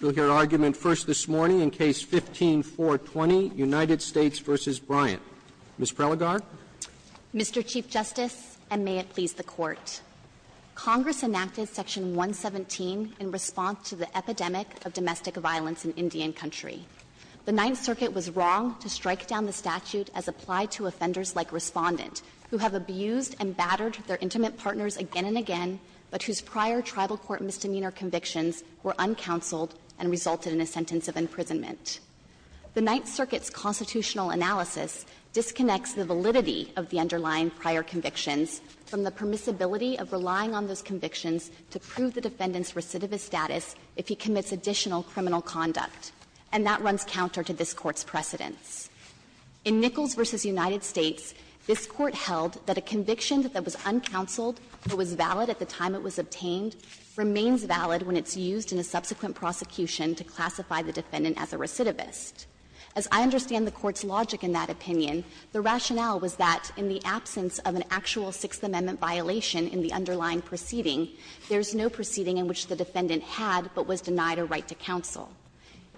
You will hear argument first this morning in Case No. 15-420, United States v. Bryant. Ms. Prelogar. Mr. Chief Justice, and may it please the Court, Congress enacted Section 117 in response to the epidemic of domestic violence in Indian Country. The Ninth Circuit was wrong to strike down the statute as applied to offenders like Respondent, who have abused and battered their intimate partners again and again, but whose prior Tribal Court misdemeanor convictions were uncounseled and resulted in a sentence of imprisonment. The Ninth Circuit's constitutional analysis disconnects the validity of the underlying prior convictions from the permissibility of relying on those convictions to prove the defendant's recidivist status if he commits additional criminal conduct. And that runs counter to this Court's precedents. In Nichols v. United States, this Court held that a conviction that was uncounseled but was valid at the time it was obtained remains valid when it's used in a subsequent prosecution to classify the defendant as a recidivist. As I understand the Court's logic in that opinion, the rationale was that in the absence of an actual Sixth Amendment violation in the underlying proceeding, there is no proceeding in which the defendant had but was denied a right to counsel.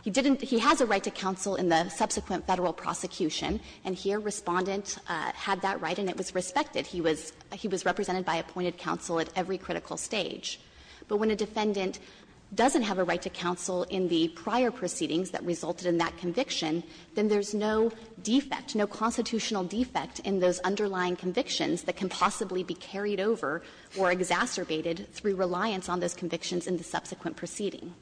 He didn't — he has a right to counsel in the subsequent Federal prosecution, and here Respondent had that right and it was respected. He was represented by appointed counsel at every critical stage. But when a defendant doesn't have a right to counsel in the prior proceedings that resulted in that conviction, then there's no defect, no constitutional defect in those underlying convictions that can possibly be carried over or exacerbated through reliance on those convictions in the subsequent proceeding.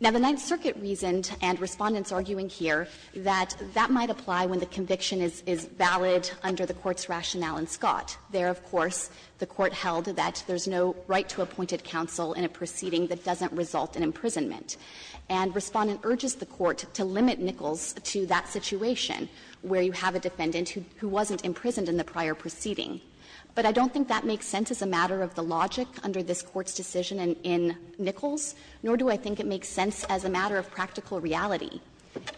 Now, the Ninth Circuit reasoned, and Respondent's arguing here, that that might apply when the conviction is valid under the Court's rationale in Scott. There, of course, the Court held that there's no right to appointed counsel in a proceeding that doesn't result in imprisonment. And Respondent urges the Court to limit Nichols to that situation, where you have a defendant who wasn't imprisoned in the prior proceeding. But I don't think that makes sense as a matter of the logic under this Court's decision in Nichols, nor do I think it makes sense as a matter of practical reality.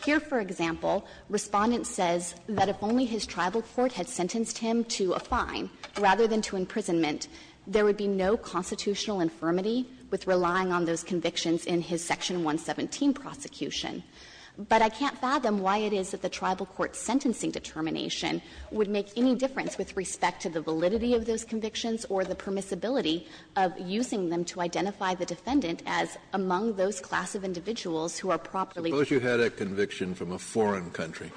Here, for example, Respondent says that if only his tribal court had sentenced him to a fine rather than to imprisonment, there would be no constitutional infirmity with relying on those convictions in his Section 117 prosecution. But I can't fathom why it is that the tribal court's sentencing determination would make any difference with respect to the validity of those convictions or the permissibility of using them to identify the defendant as among those class of individuals who are properly. Kennedy, I suppose you had a conviction from a foreign country.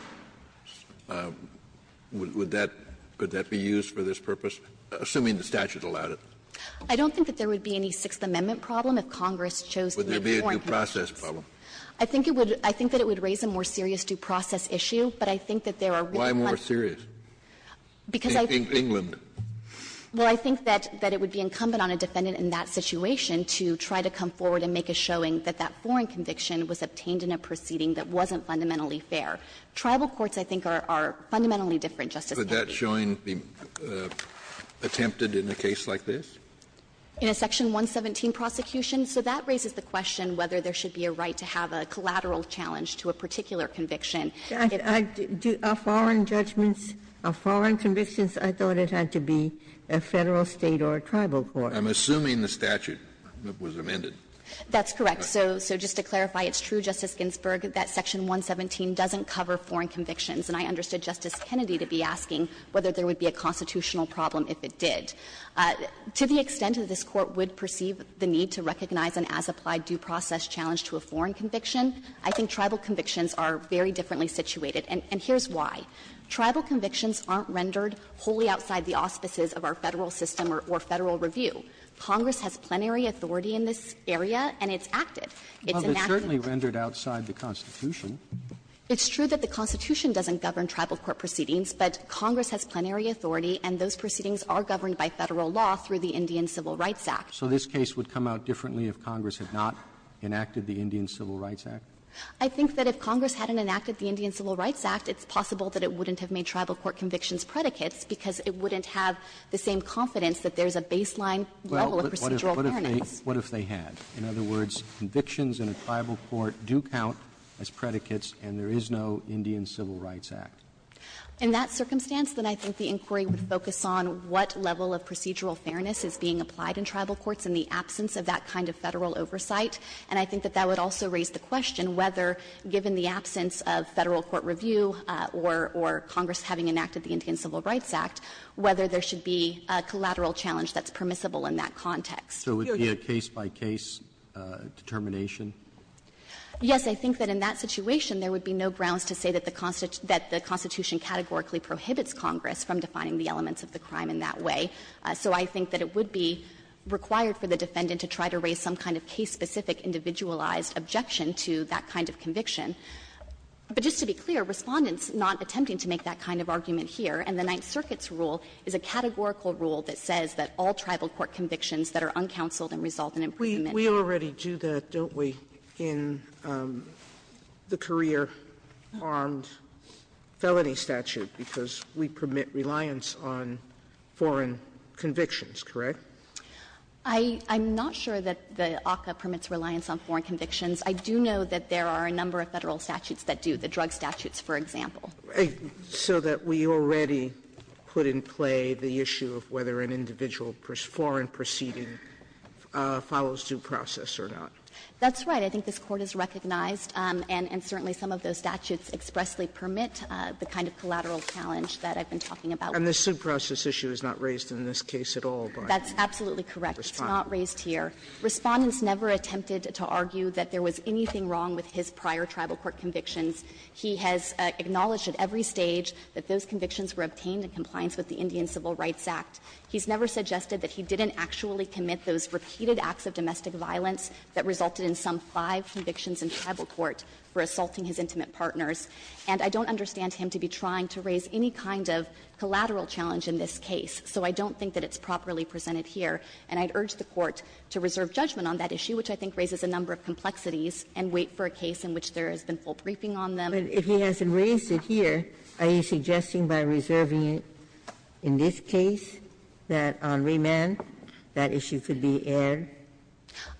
Would that be used for this purpose, assuming the statute allowed it? I don't think that there would be any Sixth Amendment problem if Congress chose to make a foreign conviction. Kennedy, would there be a due process problem? I think it would raise a more serious due process issue, but I think that there are really one. Kennedy, why more serious? Because I think that it would be incumbent on a defendant in that situation to try to come forward and make a showing that that foreign conviction was obtained in a proceeding that wasn't fundamentally fair. Tribal courts, I think, are fundamentally different, Justice Kennedy. Could that showing be attempted in a case like this? In a Section 117 prosecution? So that raises the question whether there should be a right to have a collateral challenge to a particular conviction. Are foreign judgments, are foreign convictions, I thought it had to be a Federal State or a tribal court. I'm assuming the statute was amended. That's correct. So just to clarify, it's true, Justice Ginsburg, that Section 117 doesn't cover foreign convictions, and I understood Justice Kennedy to be asking whether there would be a constitutional problem if it did. To the extent that this Court would perceive the need to recognize an as-applied due process challenge to a foreign conviction, I think tribal convictions are very differently situated, and here's why. Tribal convictions aren't rendered wholly outside the auspices of our Federal system or Federal review. Congress has plenary authority in this area, and it's acted. It's enacted. Well, it's certainly rendered outside the Constitution. It's true that the Constitution doesn't govern tribal court proceedings, but Congress has plenary authority, and those proceedings are governed by Federal law through the Indian Civil Rights Act. So this case would come out differently if Congress had not enacted the Indian Civil Rights Act? I think that if Congress hadn't enacted the Indian Civil Rights Act, it's possible that it wouldn't have made tribal court convictions predicates, because it wouldn't have the same confidence that there's a baseline level of procedural fairness. Roberts, what if they had? In other words, convictions in a tribal court do count as predicates, and there is no Indian Civil Rights Act. In that circumstance, then I think the inquiry would focus on what level of procedural fairness is being applied in tribal courts in the absence of that kind of Federal oversight, and I think that that would also raise the question whether, given the absence of Federal court review or Congress having enacted the Indian Civil Rights Act, whether there should be a collateral challenge that's permissible in that context. So it would be a case-by-case determination? Yes. I think that in that situation, there would be no grounds to say that the Constitution categorically prohibits Congress from defining the elements of the crime in that way. So I think that it would be required for the defendant to try to raise some kind of case-specific individualized objection to that kind of conviction. But just to be clear, Respondent's not attempting to make that kind of argument here, and the Ninth Circuit's rule is a categorical rule that says that all tribal court convictions that are uncounseled and result in imprisonment. Sotomayor, we already do that, don't we, in the career armed felony statute, because we permit reliance on foreign convictions, correct? I'm not sure that the ACCA permits reliance on foreign convictions. I do know that there are a number of Federal statutes that do, the drug statutes, for example. So that we already put in play the issue of whether an individual foreign proceeding follows due process or not? That's right. I think this Court has recognized, and certainly some of those statutes expressly permit the kind of collateral challenge that I've been talking about. And the suit process issue is not raised in this case at all by Respondent? That's absolutely correct. It's not raised here. Respondent's never attempted to argue that there was anything wrong with his prior tribal court convictions. He has acknowledged at every stage that those convictions were obtained in compliance with the Indian Civil Rights Act. He's never suggested that he didn't actually commit those repeated acts of domestic violence that resulted in some five convictions in tribal court for assaulting his intimate partners. And I don't understand him to be trying to raise any kind of collateral challenge in this case. So I don't think that it's properly presented here. And I'd urge the Court to reserve judgment on that issue, which I think raises a number of complexities, and wait for a case in which there has been full briefing on them. Ginsburg. But if he hasn't raised it here, are you suggesting by reserving it in this case that on remand that issue could be aired?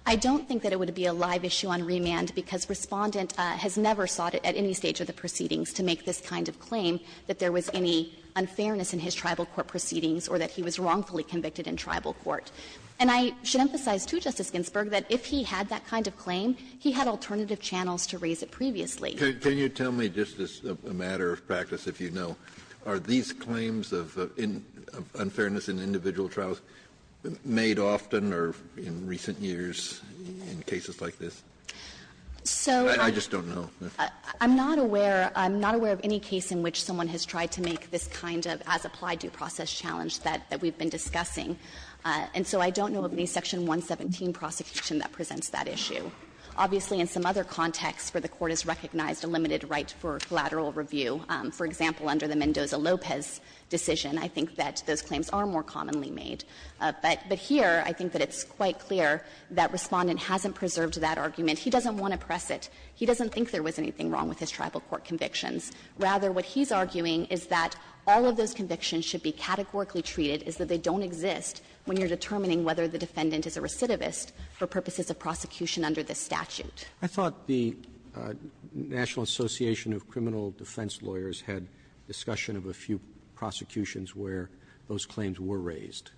I don't think that it would be a live issue on remand, because Respondent has never sought at any stage of the proceedings to make this kind of claim that there was any And I should emphasize to Justice Ginsburg that if he had that kind of claim, he had alternative channels to raise it previously. Can you tell me, just as a matter of practice, if you know, are these claims of unfairness in individual trials made often or in recent years in cases like this? So I'm just don't know. I'm not aware. I'm not aware of any case in which someone has tried to make this kind of as-applied due process challenge that we've been discussing. And so I don't know of any Section 117 prosecution that presents that issue. Obviously, in some other contexts where the Court has recognized a limited right for collateral review, for example, under the Mendoza-Lopez decision, I think that those claims are more commonly made. But here, I think that it's quite clear that Respondent hasn't preserved that argument. He doesn't want to press it. He doesn't think there was anything wrong with his tribal court convictions. Rather, what he's arguing is that all of those convictions should be categorically treated is that they don't exist when you're determining whether the defendant is a recidivist for purposes of prosecution under this statute. Roberts. I thought the National Association of Criminal Defense Lawyers had discussion of a few prosecutions where those claims were raised.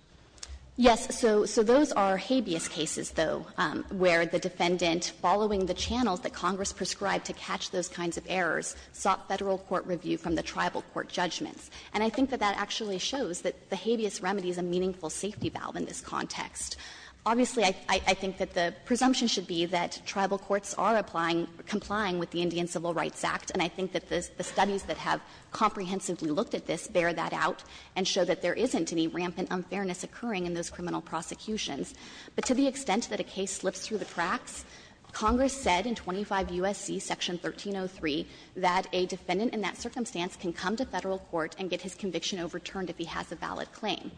Yes. So those are habeas cases, though, where the defendant, following the channels that Congress prescribed to catch those kinds of errors, sought Federal court review from the tribal court judgments. And I think that that actually shows that the habeas remedy is a meaningful safety valve in this context. Obviously, I think that the presumption should be that tribal courts are applying or complying with the Indian Civil Rights Act, and I think that the studies that have comprehensively looked at this bear that out and show that there isn't any rampant unfairness occurring in those criminal prosecutions. But to the extent that a case slips through the cracks, Congress said in 25 U.S.C. Section 1303 that a defendant in that circumstance can come to Federal court and get his conviction overturned if he has a valid claim.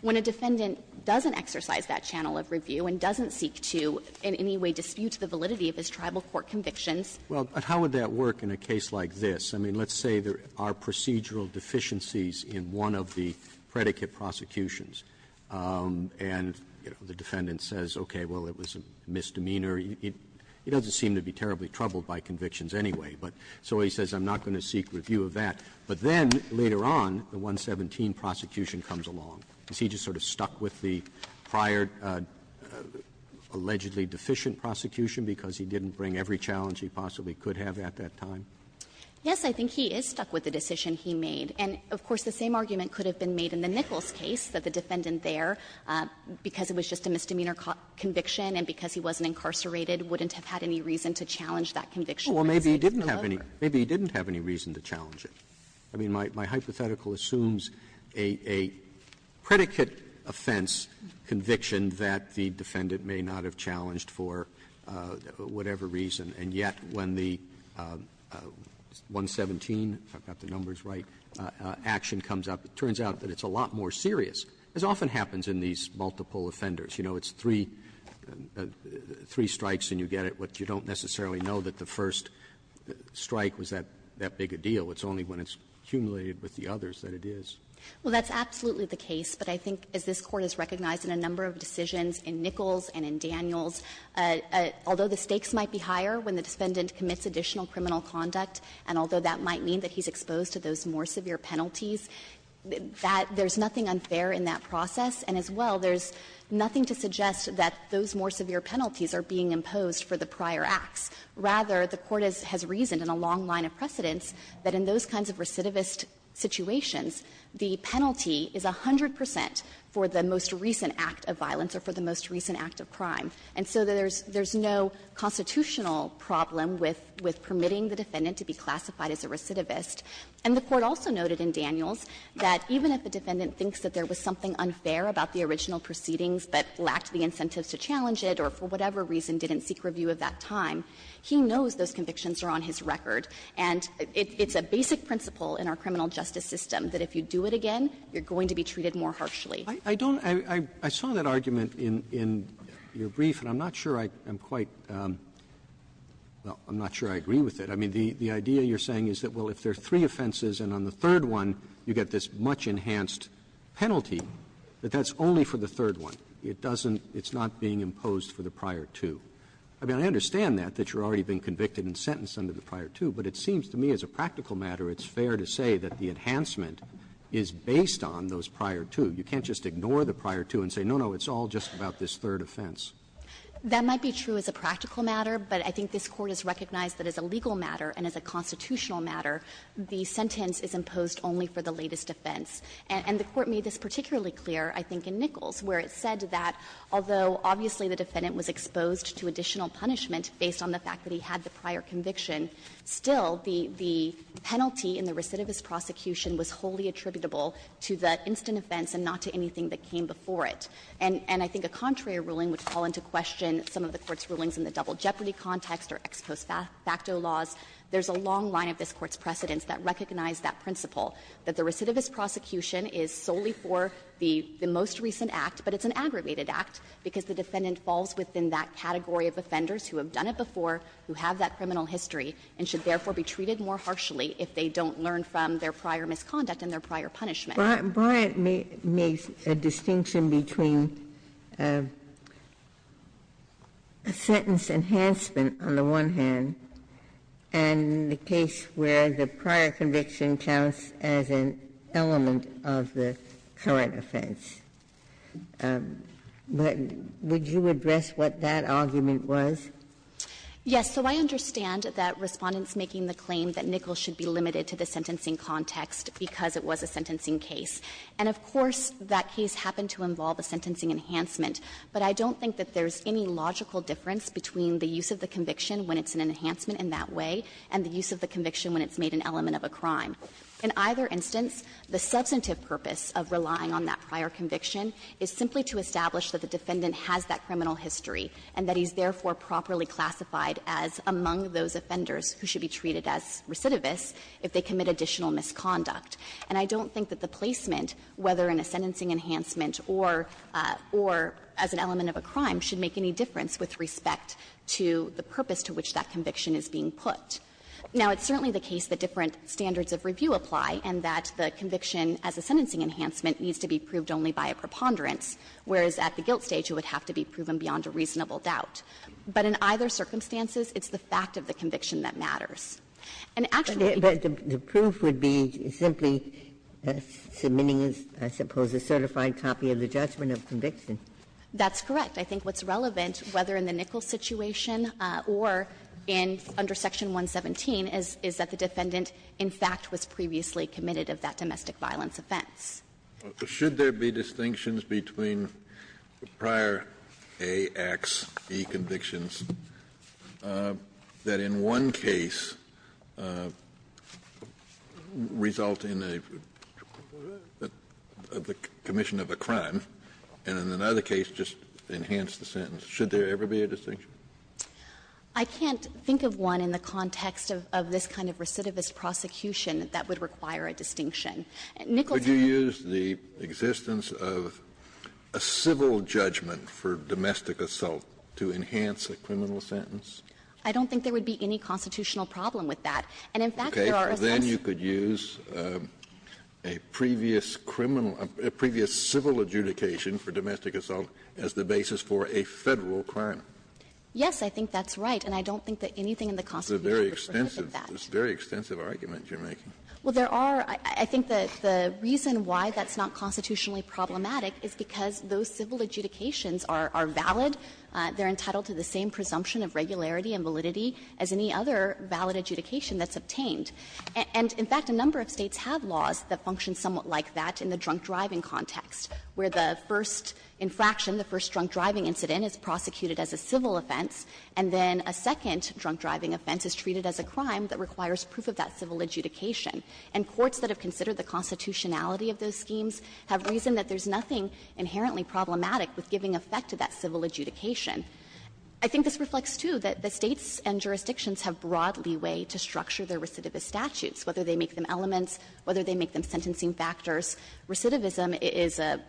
When a defendant doesn't exercise that channel of review and doesn't seek to in any way dispute the validity of his tribal court convictions. Roberts. Roberts. But how would that work in a case like this? I mean, let's say there are procedural deficiencies in one of the predicate prosecutions, and, you know, the defendant says, okay, well, it was a misdemeanor. He doesn't seem to be terribly troubled by convictions anyway, but so he says, I'm not going to seek review of that. But then later on, the 117 prosecution comes along. Is he just sort of stuck with the prior allegedly deficient prosecution because he didn't bring every challenge he possibly could have at that time? Yes, I think he is stuck with the decision he made. And, of course, the same argument could have been made in the Nichols case, that the defendant there, because it was just a misdemeanor conviction and because he wasn't incarcerated, wouldn't have had any reason to challenge that conviction or say he didn't deliver. Maybe he didn't have any reason to challenge it. I mean, my hypothetical assumes a predicate offense conviction that the defendant may not have challenged for whatever reason, and yet when the 117, if I've got the numbers right, action comes up, it turns out that it's a lot more serious. This often happens in these multiple offenders. You know, it's three strikes and you get it, but you don't necessarily know that the first strike was that big a deal. It's only when it's cumulated with the others that it is. Well, that's absolutely the case. But I think, as this Court has recognized in a number of decisions in Nichols and in Daniels, although the stakes might be higher when the defendant commits additional criminal conduct, and although that might mean that he's exposed to those more severe penalties, that there's nothing unfair in that process. And as well, there's nothing to suggest that those more severe penalties are being imposed for the prior acts. Rather, the Court has reasoned in a long line of precedence that in those kinds of recidivist situations, the penalty is 100 percent for the most recent act of violence or for the most recent act of crime. And so there's no constitutional problem with permitting the defendant to be classified as a recidivist. And the Court also noted in Daniels that even if the defendant thinks that there was something unfair about the original proceedings that lacked the incentives to challenge it or for whatever reason didn't seek review of that time, he knows those convictions are on his record. And it's a basic principle in our criminal justice system that if you do it again, you're going to be treated more harshly. Roberts. I don't — I saw that argument in your brief, and I'm not sure I'm quite — well, I'm not sure I agree with it. I mean, the idea you're saying is that, well, if there are three offenses and on the second penalty, that that's only for the third one. It doesn't — it's not being imposed for the prior two. I mean, I understand that, that you're already being convicted and sentenced under the prior two, but it seems to me as a practical matter it's fair to say that the enhancement is based on those prior two. You can't just ignore the prior two and say, no, no, it's all just about this third offense. That might be true as a practical matter, but I think this Court has recognized that as a legal matter and as a constitutional matter, the sentence is imposed only for the latest offense. And the Court made this particularly clear, I think, in Nichols, where it said that although obviously the defendant was exposed to additional punishment based on the fact that he had the prior conviction, still the penalty in the recidivist prosecution was wholly attributable to the instant offense and not to anything that came before it. And I think a contrary ruling would fall into question some of the Court's rulings in the double jeopardy context or ex post facto laws. There's a long line of this Court's precedents that recognize that principle, that the recidivist prosecution is solely for the most recent act, but it's an aggravated act, because the defendant falls within that category of offenders who have done it before, who have that criminal history, and should therefore be treated more harshly if they don't learn from their prior misconduct and their prior punishment. Ginsburg. Ginsburg makes a distinction between a sentence enhancement, on the one hand, and the case where the prior conviction counts as an element of the current offense. Would you address what that argument was? Yes. So I understand that Respondent's making the claim that Nichols should be limited to the sentencing context because it was a sentencing case. And of course, that case happened to involve a sentencing enhancement, but I don't think that there's any logical difference between the use of the conviction when it's an enhancement in that way and the use of the conviction when it's made an element of a crime. In either instance, the substantive purpose of relying on that prior conviction is simply to establish that the defendant has that criminal history and that he's therefore properly classified as among those offenders who should be treated as recidivists if they commit additional misconduct. And I don't think that the placement, whether in a sentencing enhancement or as an element of a crime, should make any difference with respect to the purpose to which that conviction is being put. Now, it's certainly the case that different standards of review apply and that the conviction as a sentencing enhancement needs to be proved only by a preponderance, whereas at the guilt stage it would have to be proven beyond a reasonable doubt. But in either circumstances, it's the fact of the conviction that matters. And actually the proof would be simply submitting, I suppose, a certified copy of the judgment of conviction. That's correct. I think what's relevant, whether in the Nichols situation or under Section 117, is that the defendant in fact was previously committed of that domestic violence offense. Kennedy. Kennedy. Should there be distinctions between the prior A, X, E convictions that in one case result in a commission of a crime, and in another case just enhancement of a crime Should there ever be a distinction? I can't think of one in the context of this kind of recidivist prosecution that would require a distinction. Nichols had a ---- Would you use the existence of a civil judgment for domestic assault to enhance a criminal sentence? I don't think there would be any constitutional problem with that. And in fact, there are a bunch of ---- Okay. Then you could use a previous criminal or a previous civil adjudication for domestic assault as the basis for a Federal crime. Yes, I think that's right. And I don't think that anything in the Constitution would prohibit that. It's a very extensive argument you're making. Well, there are ---- I think the reason why that's not constitutionally problematic is because those civil adjudications are valid. They're entitled to the same presumption of regularity and validity as any other valid adjudication that's obtained. And in fact, a number of States have laws that function somewhat like that in the first infraction, the first drunk-driving incident is prosecuted as a civil offense, and then a second drunk-driving offense is treated as a crime that requires proof of that civil adjudication. And courts that have considered the constitutionality of those schemes have reasoned that there's nothing inherently problematic with giving effect to that civil adjudication. I think this reflects, too, that the States and jurisdictions have broad leeway to structure their recidivist statutes, whether they make them elements, whether they make them sentencing factors. Recidivism is a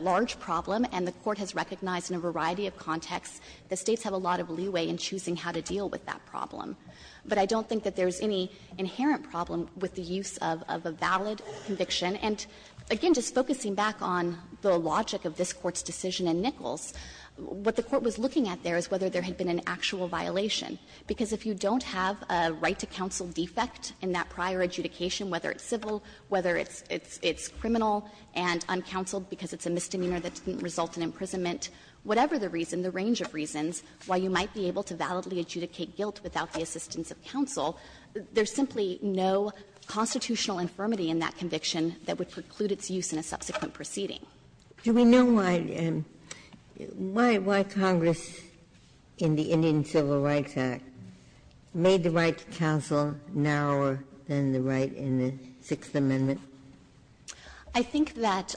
large problem, and the Court has recognized in a variety of contexts the States have a lot of leeway in choosing how to deal with that problem. But I don't think that there's any inherent problem with the use of a valid conviction. And again, just focusing back on the logic of this Court's decision in Nichols, what the Court was looking at there is whether there had been an actual violation. Because if you don't have a right to counsel defect in that prior adjudication, whether it's civil, whether it's criminal and uncounseled because it's a misdemeanor that didn't result in imprisonment, whatever the reason, the range of reasons, while you might be able to validly adjudicate guilt without the assistance of counsel, there's simply no constitutional infirmity in that conviction that would preclude its use in a subsequent proceeding. Ginsburg. Do we know why Congress in the Indian Civil Rights Act made the right to counsel narrower than the right in the Sixth Amendment? I think that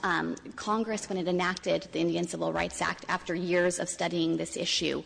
Congress, when it enacted the Indian Civil Rights Act, after years of studying this issue,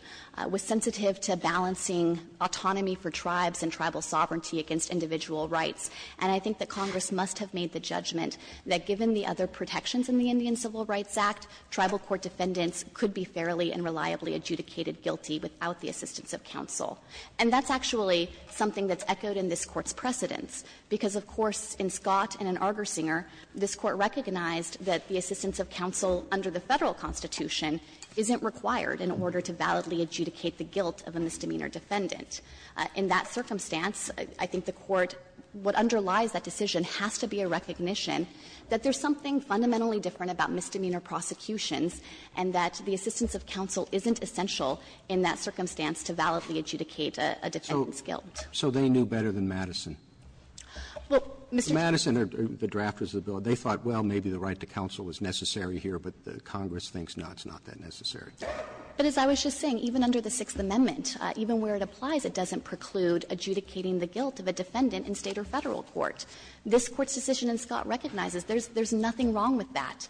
was sensitive to balancing autonomy for tribes and tribal sovereignty against individual rights. And I think that Congress must have made the judgment that given the other protections in the Indian Civil Rights Act, tribal court defendants could be fairly and reliably adjudicated guilty without the assistance of counsel. And that's actually something that's echoed in this Court's precedents, because of course in Scott and in Argersinger, this Court recognized that the assistance of counsel under the Federal Constitution isn't required in order to validly adjudicate the guilt of a misdemeanor defendant. In that circumstance, I think the Court, what underlies that decision has to be a recognition that there's something fundamentally different about misdemeanor prosecutions and that the assistance of counsel isn't essential in that circumstance to validly adjudicate a defendant's guilt. Roberts So they knew better than Madison. Madison, the drafters of the bill, they thought, well, maybe the right to counsel is necessary here, but Congress thinks it's not that necessary. But as I was just saying, even under the Sixth Amendment, even where it applies, it doesn't preclude adjudicating the guilt of a defendant in State or Federal court. This Court's decision in Scott recognizes there's nothing wrong with that.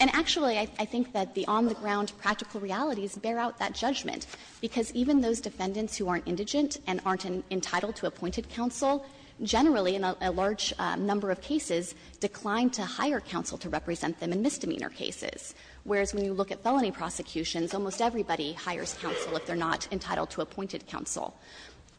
And actually, I think that the on-the-ground practical realities bear out that judgment, because even those defendants who aren't indigent and aren't entitled to appointed counsel generally, in a large number of cases, decline to hire counsel to represent them in misdemeanor cases, whereas when you look at felony prosecutions, almost everybody hires counsel if they're not entitled to appointed counsel.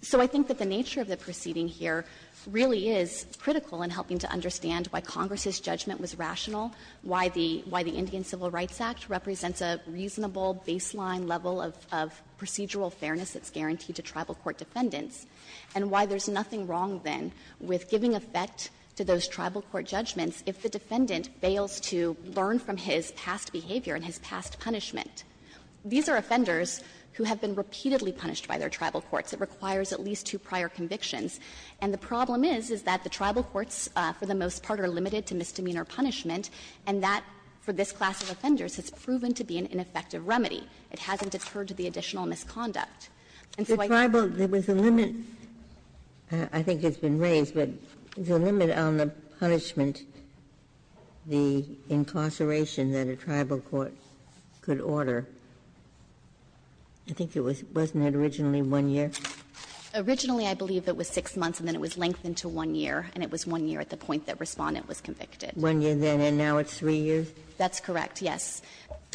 So I think that the nature of the proceeding here really is critical in helping to understand why Congress's judgment was rational, why the Indian Civil Rights Act represents a reasonable baseline level of procedural fairness that's guaranteed to tribal court defendants, and why there's nothing wrong, then, with giving effect to those tribal court judgments if the defendant fails to learn from his past behavior and his past punishment. These are offenders who have been repeatedly punished by their tribal courts. It requires at least two prior convictions. And the problem is, is that the tribal courts, for the most part, are limited to misdemeanor punishment, and that, for this class of offenders, has proven to be an ineffective remedy. It hasn't occurred to the additional misconduct. And so I think that's why we're here. Ginsburg. There was a limit — I think it's been raised, but there's a limit on the punishment, the incarceration that a tribal court could order. I think it was — wasn't it originally one year? Originally, I believe it was six months, and then it was lengthened to one year, and it was one year at the point that Respondent was convicted. Ginsburg. One year then, and now it's three years? That's correct, yes.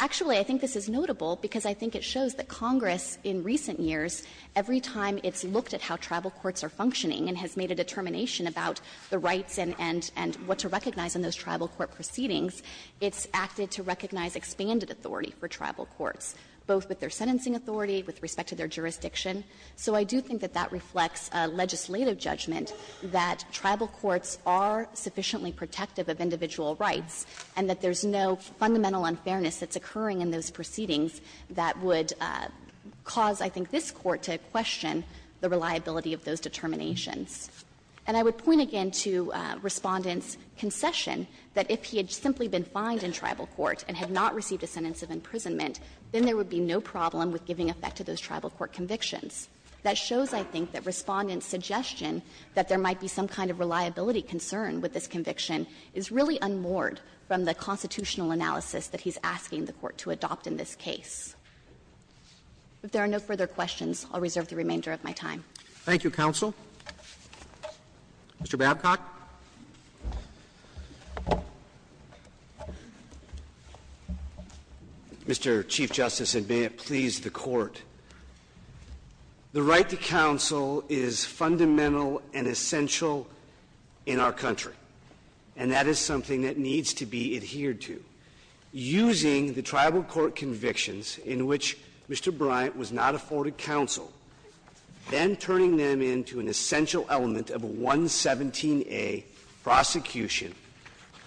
Actually, I think this is notable because I think it shows that Congress, in recent years, every time it's looked at how tribal courts are functioning and has made a determination about the rights and what to recognize in those tribal court proceedings, it's acted to recognize expanded authority for tribal courts, both with their sentencing authority, with respect to their jurisdiction. So I do think that that reflects a legislative judgment that tribal courts are sufficiently protective of individual rights, and that there's no fundamental unfairness that's occurring in those proceedings that would cause, I think, this Court to question the reliability of those determinations. And I would point again to Respondent's concession that if he had simply been fined in tribal court and had not received a sentence of imprisonment, then there would be no problem with giving effect to those tribal court convictions. That shows, I think, that Respondent's suggestion that there might be some kind of reliability concern with this conviction is really unmoored from the constitutional analysis that he's asking the Court to adopt in this case. If there are no further questions, I'll reserve the remainder of my time. Roberts. Thank you, counsel. Mr. Babcock. Mr. Chief Justice, and may it please the Court. The right to counsel is fundamental and essential in our country. And that is something that needs to be adhered to. Using the tribal court convictions in which Mr. Bryant was not afforded counsel, then turning them into an essential element of a 117a prosecution,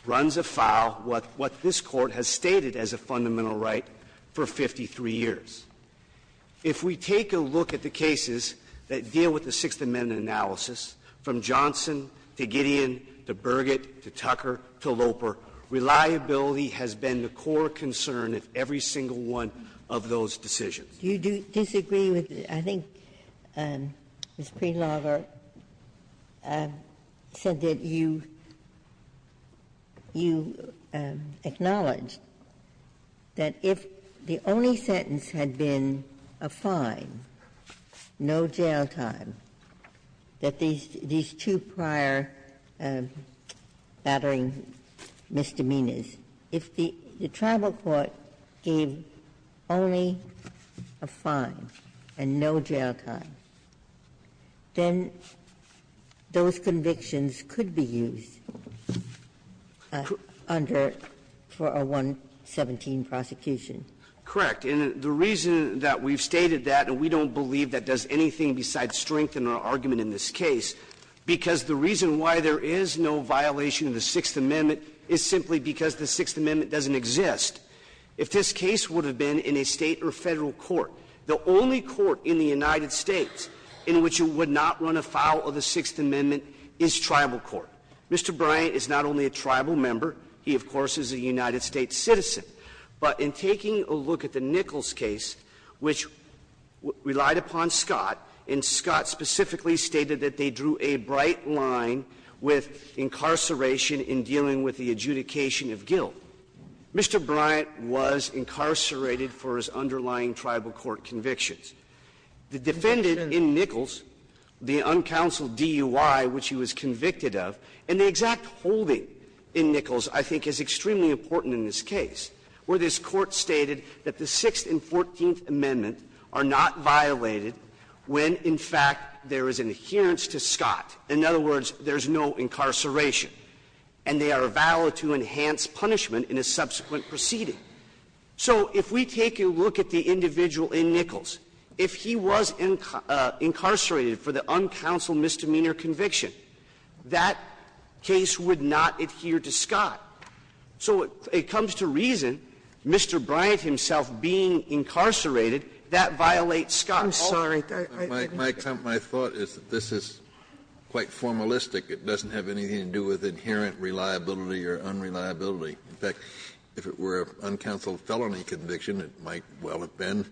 runs afoul what this Court has stated as a fundamental right for 53 years. If we take a look at the cases that deal with the Sixth Amendment analysis, from Johnson to Gideon to Burgett to Tucker to Loper, reliability has been the core concern of every single one of those decisions. Ginsburg. Do you disagree with the other? I think Ms. Prelogar said that you acknowledged that if the only sentence had been a fine, no jail time, that these two prior battering misdemeanors, if the tribal court gave only a fine and no jail time, then those convictions could be used under a 117 prosecution. Correct. And the reason that we've stated that, and we don't believe that does anything besides strengthen our argument in this case, because the reason why there is no violation of the Sixth Amendment is simply because the Sixth Amendment doesn't exist. If this case would have been in a State or Federal court, the only court in the United States in which it would not run afoul of the Sixth Amendment is tribal court. Mr. Bryant is not only a tribal member. He, of course, is a United States citizen. But in taking a look at the Nichols case, which relied upon Scott, and Scott specifically stated that they drew a bright line with incarceration in dealing with the adjudication of guilt, Mr. Bryant was incarcerated for his underlying tribal court convictions. The defendant in Nichols, the uncounseled DUI which he was convicted of, and the exact holding in Nichols I think is extremely important in this case, where this Court stated that the Sixth and Fourteenth Amendments are not violated when, in fact, there is an adherence to Scott. In other words, there is no incarceration, and they are valid to enhance punishment in a subsequent proceeding. So if we take a look at the individual in Nichols, if he was incarcerated for the uncounseled misdemeanor conviction, that case would not adhere to Scott. So it comes to reason, Mr. Bryant himself being incarcerated, that violates Scott. Sotomayor, I didn't get it. Kennedy, my thought is that this is quite formalistic. It doesn't have anything to do with inherent reliability or unreliability. In fact, if it were an uncounseled felony conviction, it might well have been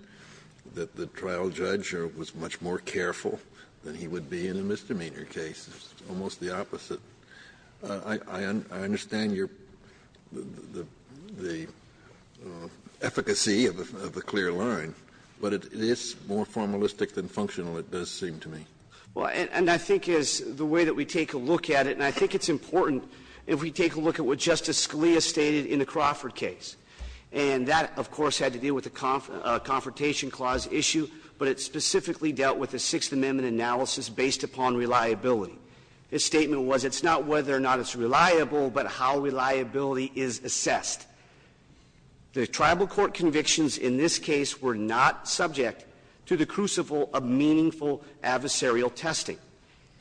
that the trial judge was much more careful than he would be in a misdemeanor case. It's almost the opposite. I understand your the efficacy of the clear line, but it is more formalistic than functional, it does seem to me. Well, and I think as the way that we take a look at it, and I think it's important if we take a look at what Justice Scalia stated in the Crawford case. And that, of course, had to deal with the Confrontation Clause issue, but it specifically dealt with the Sixth Amendment analysis based upon reliability. His statement was, it's not whether or not it's reliable, but how reliability is assessed. The tribal court convictions in this case were not subject to the crucible of meaningful adversarial testing.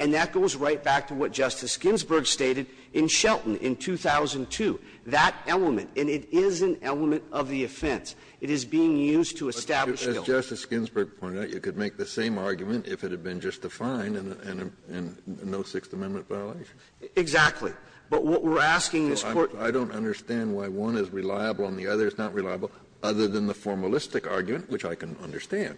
And that goes right back to what Justice Ginsburg stated in Shelton in 2002. That element, and it is an element of the offense, it is being used to establish guilt. Kennedy, as Justice Ginsburg pointed out, you could make the same argument if it had been just a fine and no Sixth Amendment violation. Exactly. But what we're asking this Court to do is to say, well, I don't understand why one is reliable and the other is not reliable, other than the formalistic argument, which I can understand.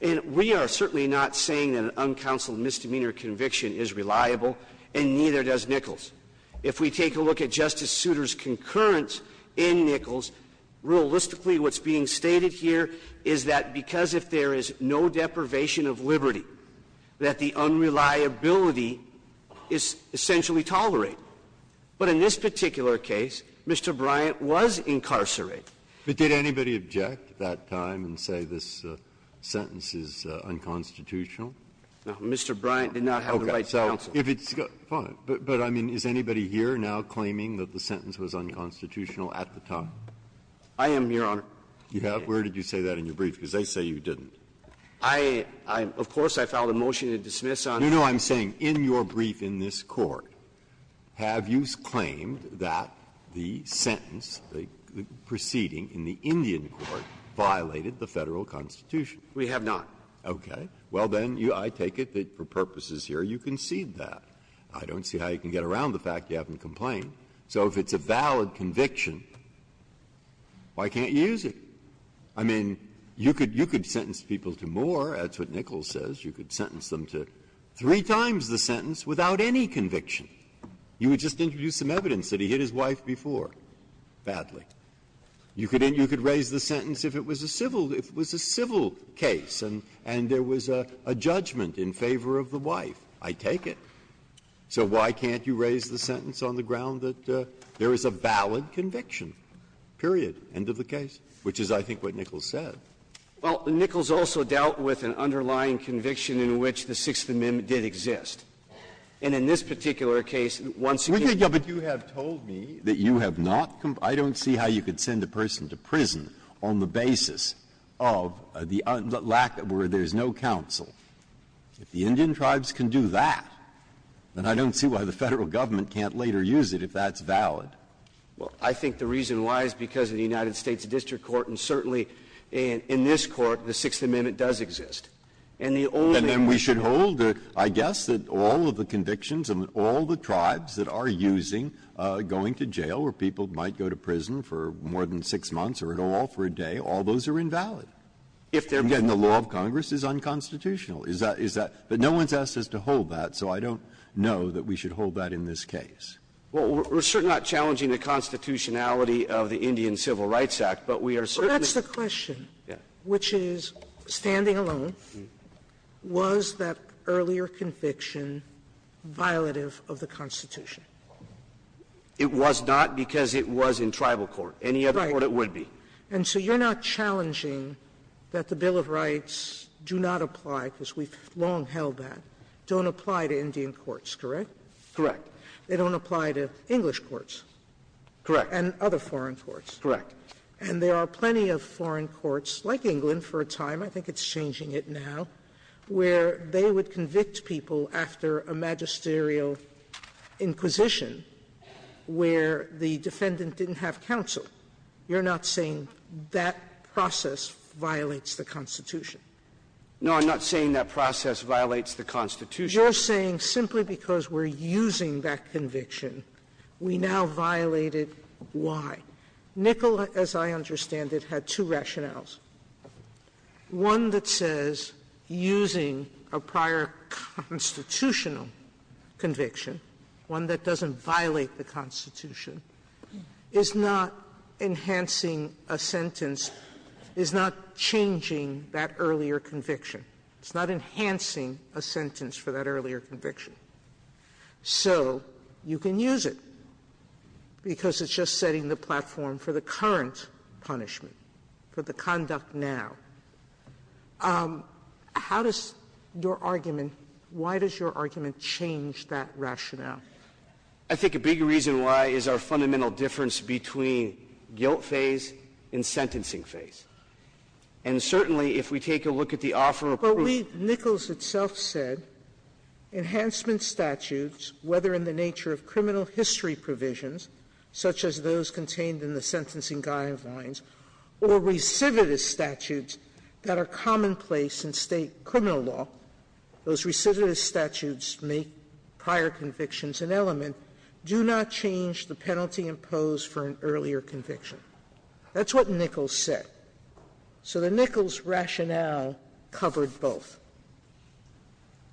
And we are certainly not saying that an uncounseled misdemeanor conviction is reliable, and neither does Nichols. If we take a look at Justice Souter's concurrence in Nichols, realistically what's being stated here is that because if there is no deprivation of liberty, that the unreliability is essentially tolerated. But in this particular case, Mr. Bryant was incarcerated. But did anybody object at that time and say this sentence is unconstitutional? No. Mr. Bryant did not have the right to counsel. Okay. So if it's got to be fine. But I mean, is anybody here now claiming that the sentence was unconstitutional at the time? I am, Your Honor. You have? Where did you say that in your brief? Because they say you didn't. I am. Of course, I filed a motion to dismiss on it. No, no. I'm saying in your brief in this Court, have you claimed that the sentence, the proceeding in the Indian court, violated the Federal Constitution? We have not. Okay. Well, then, I take it that for purposes here you concede that. I don't see how you can get around the fact you haven't complained. So if it's a valid conviction, why can't you use it? I mean, you could sentence people to more. That's what Nichols says. You could sentence them to three times the sentence without any conviction. You would just introduce some evidence that he hit his wife before, badly. You could raise the sentence if it was a civil case and there was a judgment in favor of the wife. I take it. So why can't you raise the sentence on the ground that there is a valid conviction, period, end of the case, which is, I think, what Nichols said. Well, Nichols also dealt with an underlying conviction in which the Sixth Amendment did exist. And in this particular case, once again, you have told me that you have not complied to the Sixth Amendment. I don't see how you could send a person to prison on the basis of the lack of or there is no counsel. If the Indian tribes can do that, then I don't see why the Federal government can't later use it if that's valid. Well, I think the reason why is because of the United States district court and certainly in this court, the Sixth Amendment does exist. And the only reason we should hold, I guess, that all of the convictions and all the tribes that are using going to jail where people might go to prison for more than six months or at all for a day, all those are invalid. If they're not. And the law of Congress is unconstitutional. Is that — is that — but no one has asked us to hold that, so I don't know that we should hold that in this case. Well, we're certainly not challenging the constitutionality of the Indian Civil Rights Act, but we are certainly — Well, that's the question, which is, standing alone, was that earlier conviction violative of the Constitution? It was not because it was in tribal court. Any other court, it would be. And so you're not challenging that the Bill of Rights do not apply, because we've long held that, don't apply to Indian courts, correct? Correct. They don't apply to English courts. Correct. And other foreign courts. Correct. And there are plenty of foreign courts, like England for a time, I think it's changing it now, where they would convict people after a magisterial inquisition where the defendant didn't have counsel. You're not saying that process violates the Constitution? No, I'm not saying that process violates the Constitution. You're saying simply because we're using that conviction, we now violate it. Why? Nicol, as I understand it, had two rationales. One that says using a prior constitutional conviction, one that doesn't violate the Constitution, is not enhancing a sentence, is not changing that earlier conviction. It's not enhancing a sentence for that earlier conviction. So you can use it, because it's just setting the platform for the current punishment, for the conduct now. How does your argument, why does your argument change that rationale? I think a big reason why is our fundamental difference between guilt phase and sentencing phase. And certainly, if we take a look at the offer of proof. But we, Nichols itself said, enhancement statutes, whether in the nature of criminal history provisions, such as those contained in the sentencing guidelines, or recidivist statutes that are commonplace in State criminal law, those recidivist statutes make prior convictions an element, do not change the penalty imposed for an earlier conviction. That's what Nichols said. So the Nichols rationale covered both.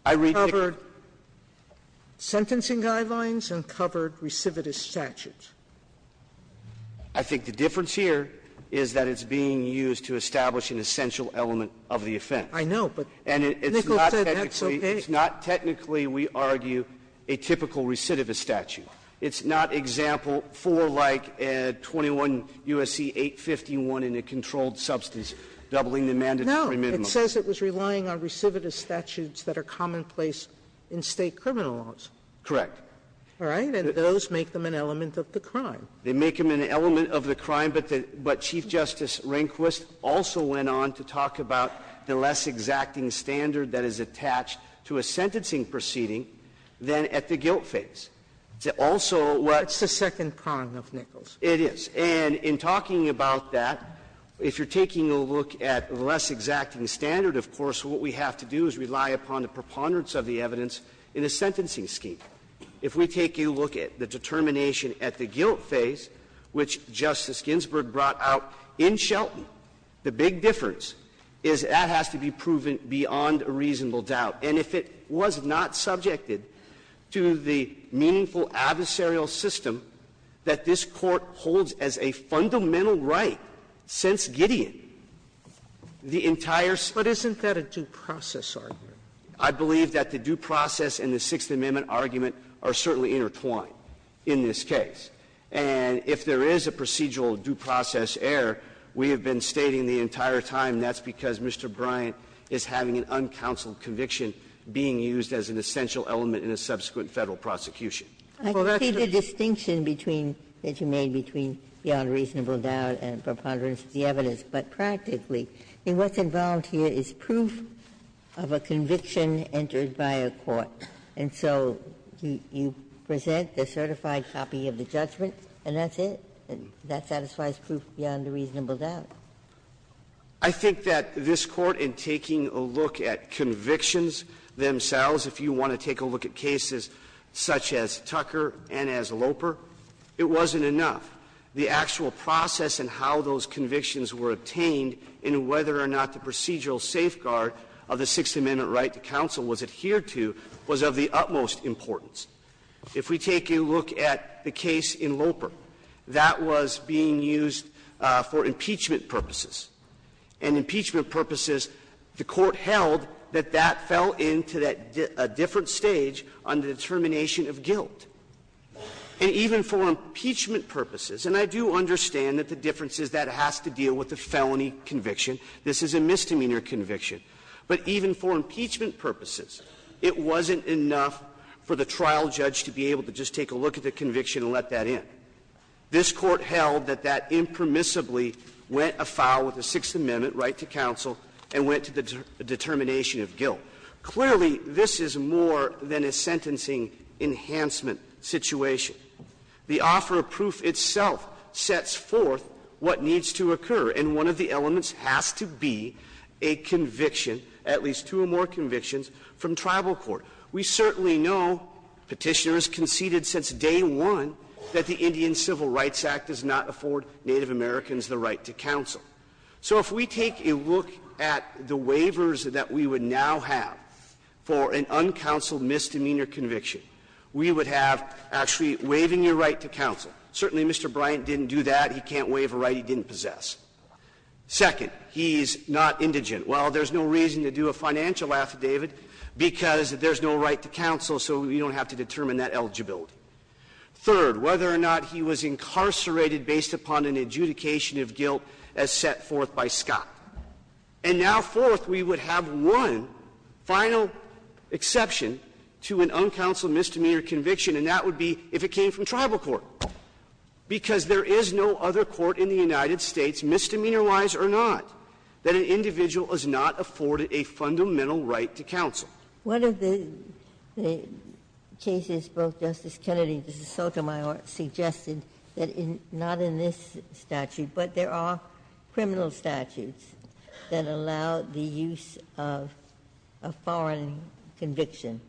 It covered sentencing guidelines and covered recidivist statutes. I think the difference here is that it's being used to establish an essential element of the offense. I know, but Nichols said that's okay. It's not technically, we argue, a typical recidivist statute. It's not example 4, like 21 U.S.C. 851 in a controlled substance, doubling the mandatory minimum. No. It says it was relying on recidivist statutes that are commonplace in State criminal laws. Correct. All right? And those make them an element of the crime. They make them an element of the crime, but Chief Justice Rehnquist also went on to say that it's a less exacting standard that is attached to a sentencing proceeding than at the guilt phase. It's also what's the second prong of Nichols. It is. And in talking about that, if you're taking a look at the less exacting standard, of course, what we have to do is rely upon the preponderance of the evidence in a sentencing scheme. If we take a look at the determination at the guilt phase, which Justice Ginsburg brought out in Shelton, the big difference is that has to be proven beyond a reasonable doubt. And if it was not subjected to the meaningful adversarial system that this Court holds as a fundamental right since Gideon, the entire study of the case is not a due process argument. I believe that the due process and the Sixth Amendment argument are certainly intertwined in this case. And if there is a procedural due process error, we have been stating the entire time that's because Mr. Bryant is having an uncounseled conviction being used as an essential element in a subsequent Federal prosecution. Ginsburg. I see the distinction between the two made between beyond reasonable doubt and preponderance of the evidence. But practically, what's involved here is proof of a conviction entered by a court. And so you present the certified copy of the judgment, and that's it? That satisfies proof beyond a reasonable doubt? I think that this Court, in taking a look at convictions themselves, if you want to take a look at cases such as Tucker and as Loper, it wasn't enough. The actual process and how those convictions were obtained and whether or not the procedural safeguard of the Sixth Amendment right to counsel was adhered to was of the utmost importance. If we take a look at the case in Loper, that was being used for impeachment purposes. And impeachment purposes, the Court held that that fell into a different stage on the determination of guilt. And even for impeachment purposes, and I do understand that the difference is that it has to deal with a felony conviction. This is a misdemeanor conviction. But even for impeachment purposes, it wasn't enough for the trial judge to be able to just take a look at the conviction and let that in. This Court held that that impermissibly went afoul with the Sixth Amendment right to counsel and went to the determination of guilt. Clearly, this is more than a sentencing enhancement situation. The offer of proof itself sets forth what needs to occur, and one of the elements has to be a conviction, at least two or more convictions, from tribal court. We certainly know, Petitioner has conceded since day one, that the Indian Civil Rights Act does not afford Native Americans the right to counsel. So if we take a look at the waivers that we would now have for an uncounseled misdemeanor conviction, we would have actually waiving your right to counsel. Certainly, Mr. Bryant didn't do that. He can't waive a right he didn't possess. Second, he's not indigent. Well, there's no reason to do a financial affidavit because there's no right to counsel, so we don't have to determine that eligibility. Third, whether or not he was incarcerated based upon an adjudication of guilt as set forth by Scott. And now fourth, we would have one final exception to an uncounseled misdemeanor conviction, and that would be if it came from tribal court, because there is no other court in the United States, misdemeanor-wise or not, that an individual is not afforded a fundamental right to counsel. One of the cases both Justice Kennedy and Justice Sotomayor suggested that in, not in this statute, but there are criminal statutes that allow the use of a foreign conviction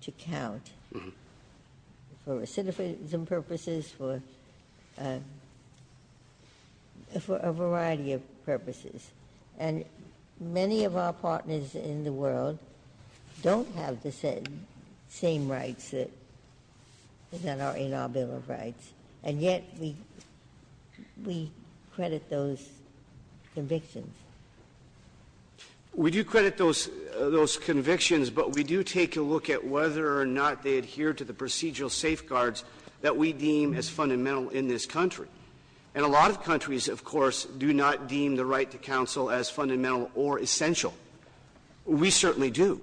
to count. For recidivism purposes, for a variety of purposes. And many of our partners in the world don't have the same rights that are in our Bill of Rights. And yet, we credit those convictions. We do credit those convictions, but we do take a look at whether or not they adhere to the procedural safeguards that we deem as fundamental in this country. And a lot of countries, of course, do not deem the right to counsel as fundamental or essential. We certainly do.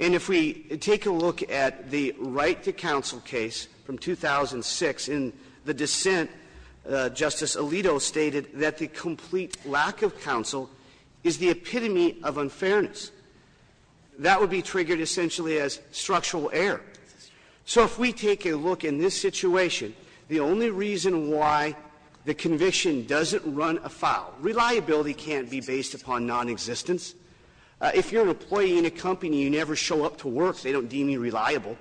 And if we take a look at the right to counsel case from 2006 in the dissent, Justice Alito stated that the complete lack of counsel is the epitome of unfairness. That would be triggered essentially as structural error. So if we take a look in this situation, the only reason why the conviction doesn't run afoul, reliability can't be based upon nonexistence. If you're an employee in a company, you never show up to work, they don't deem you reliable.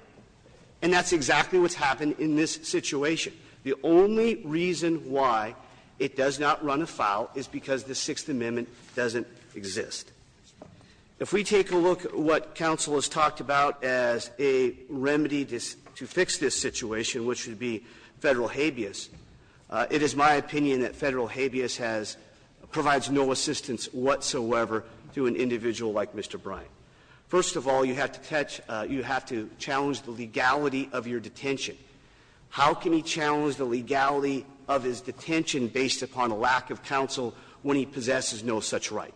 And that's exactly what's happened in this situation. The only reason why it does not run afoul is because the Sixth Amendment doesn't exist. If we take a look at what counsel has talked about as a remedy to fix this situation, which would be Federal habeas, it is my opinion that Federal habeas has no assistance whatsoever to an individual like Mr. Bryant. First of all, you have to challenge the legality of your detention. How can he challenge the legality of his detention based upon a lack of counsel when he possesses no such right?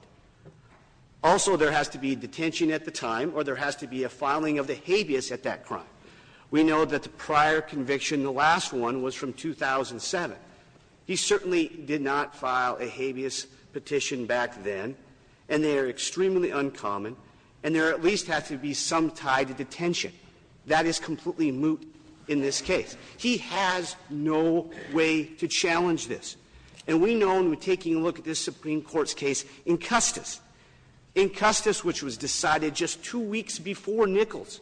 Also, there has to be detention at the time or there has to be a filing of the habeas at that crime. We know that the prior conviction, the last one, was from 2007. He certainly did not file a habeas petition back then, and they are extremely uncommon, and there at least has to be some tie to detention. That is completely moot in this case. He has no way to challenge this. And we know, and we're taking a look at this Supreme Court's case in Custis. In Custis, which was decided just two weeks before Nichols,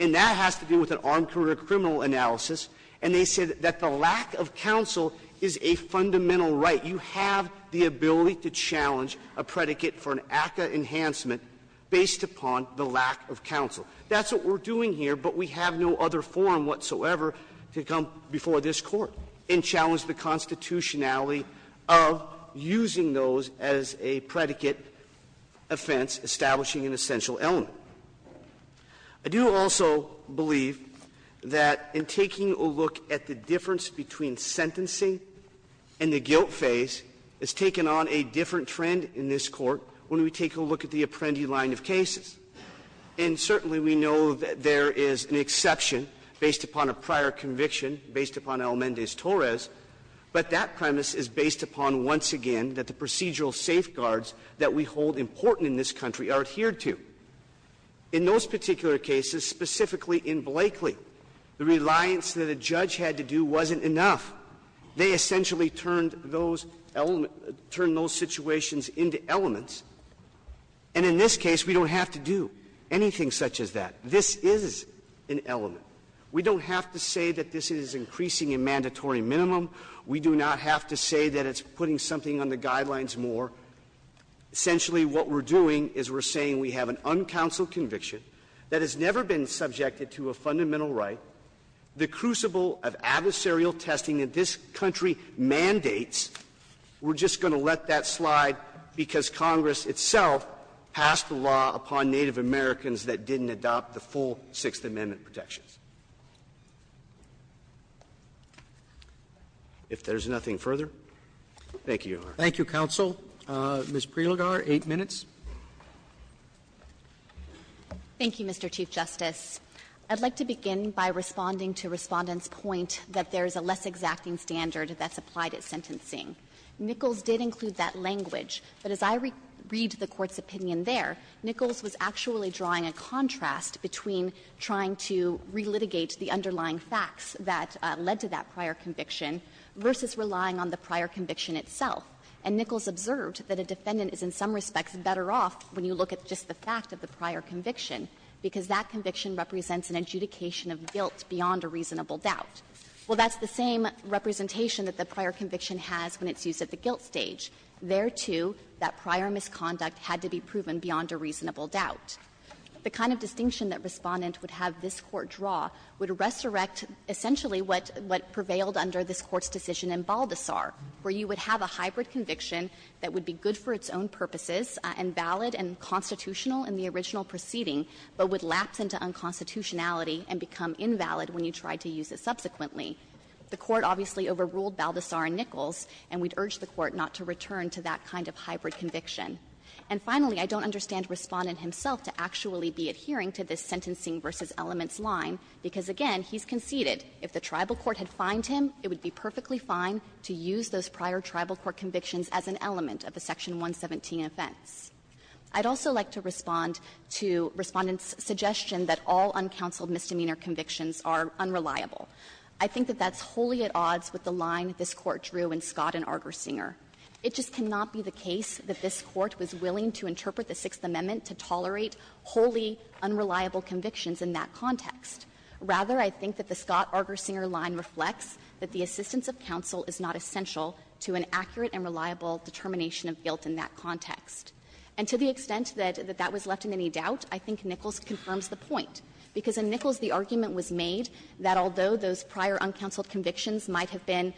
and that has to do with an armed criminal analysis. And they said that the lack of counsel is a fundamental right. You have the ability to challenge a predicate for an ACCA enhancement based upon the lack of counsel. That's what we're doing here, but we have no other forum whatsoever to come before this Court and challenge the constitutionality of using those as a predicate offense establishing an essential element. I do also believe that in taking a look at the difference between sentencing and the guilt phase, it's taken on a different trend in this Court when we take a look at the Apprendi line of cases. And certainly we know that there is an exception based upon a prior conviction, based upon Almendez-Torres, but that premise is based upon, once again, that the procedural safeguards that we hold important in this country are adhered to. In those particular cases, specifically in Blakely, the reliance that a judge had to do wasn't enough. They essentially turned those situations into elements. And in this case, we don't have to do anything such as that. This is an element. We don't have to say that this is increasing a mandatory minimum. We do not have to say that it's putting something on the guidelines more. Essentially, what we're doing is we're saying we have an uncounseled conviction that has never been subjected to a fundamental right, the crucible of adversarial testing that this country mandates. We're just going to let that slide because Congress itself passed a law upon Native Americans that didn't adopt the full Sixth Amendment protections. If there's nothing further, thank you, Your Honor. Roberts. Roberts. Thank you, counsel. Ms. Prelogar, 8 minutes. Thank you, Mr. Chief Justice. I'd like to begin by responding to Respondent's point that there is a less exacting standard that's applied at sentencing. Nichols did include that language, but as I read the Court's opinion there, Nichols was actually drawing a contrast between trying to relitigate the underlying facts that led to that prior conviction versus relying on the prior conviction itself. And Nichols observed that a defendant is in some respects better off when you look at just the fact of the prior conviction, because that conviction represents an adjudication of guilt beyond a reasonable doubt. Well, that's the same representation that the prior conviction has when it's used at the guilt stage. There, too, that prior misconduct had to be proven beyond a reasonable doubt. The kind of distinction that Respondent would have this Court draw would resurrect essentially what prevailed under this Court's decision in Baldessar, where you would have a hybrid conviction that would be good for its own purposes and valid and constitutional in the original proceeding, but would lapse into unconstitutionality and become invalid when you tried to use it subsequently. The Court obviously overruled Baldessar and Nichols, and we'd urge the Court not to return to that kind of hybrid conviction. And finally, I don't understand Respondent himself to actually be adhering to this sentencing versus elements line, because, again, he's conceded if the tribal court had fined him, it would be perfectly fine to use those prior tribal court convictions as an element of the Section 117 offense. I'd also like to respond to Respondent's suggestion that all uncounseled misdemeanor convictions are unreliable. I think that that's wholly at odds with the line this Court drew in Scott and Argersinger. It just cannot be the case that this Court was willing to interpret the Sixth Amendment to tolerate wholly unreliable convictions in that context. Rather, I think that the Scott-Argersinger line reflects that the assistance of counsel is not essential to an accurate and reliable determination of guilt in that instance. And to the extent that that was left in any doubt, I think Nichols confirms the point, because in Nichols the argument was made that although those prior uncounseled convictions might have been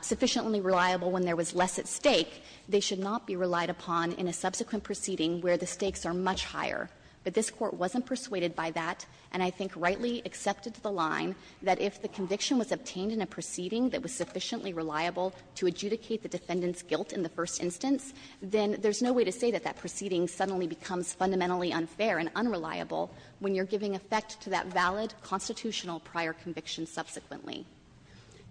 sufficiently reliable when there was less at stake, they should not be relied upon in a subsequent proceeding where the stakes are much higher. But this Court wasn't persuaded by that, and I think rightly accepted the line that if the conviction was obtained in a proceeding that was sufficiently reliable to adjudicate the defendant's guilt in the first instance, then there's no way to say that that proceeding suddenly becomes fundamentally unfair and unreliable when you're giving effect to that valid constitutional prior conviction subsequently.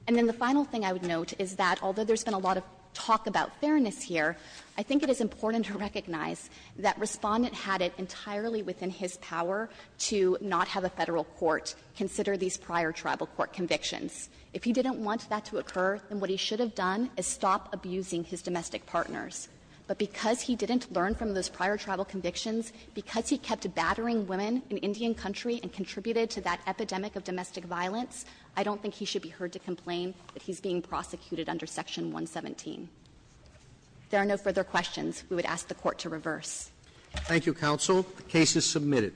And then the final thing I would note is that although there's been a lot of talk about fairness here, I think it is important to recognize that Respondent had it entirely within his power to not have a Federal court consider these prior tribal court convictions. If he didn't want that to occur, then what he should have done is stop abusing his domestic partners. But because he didn't learn from those prior tribal convictions, because he kept battering women in Indian country and contributed to that epidemic of domestic violence, I don't think he should be heard to complain that he's being prosecuted under Section 117. If there are no further questions, we would ask the Court to reverse. Roberts. Thank you, counsel. The case is submitted.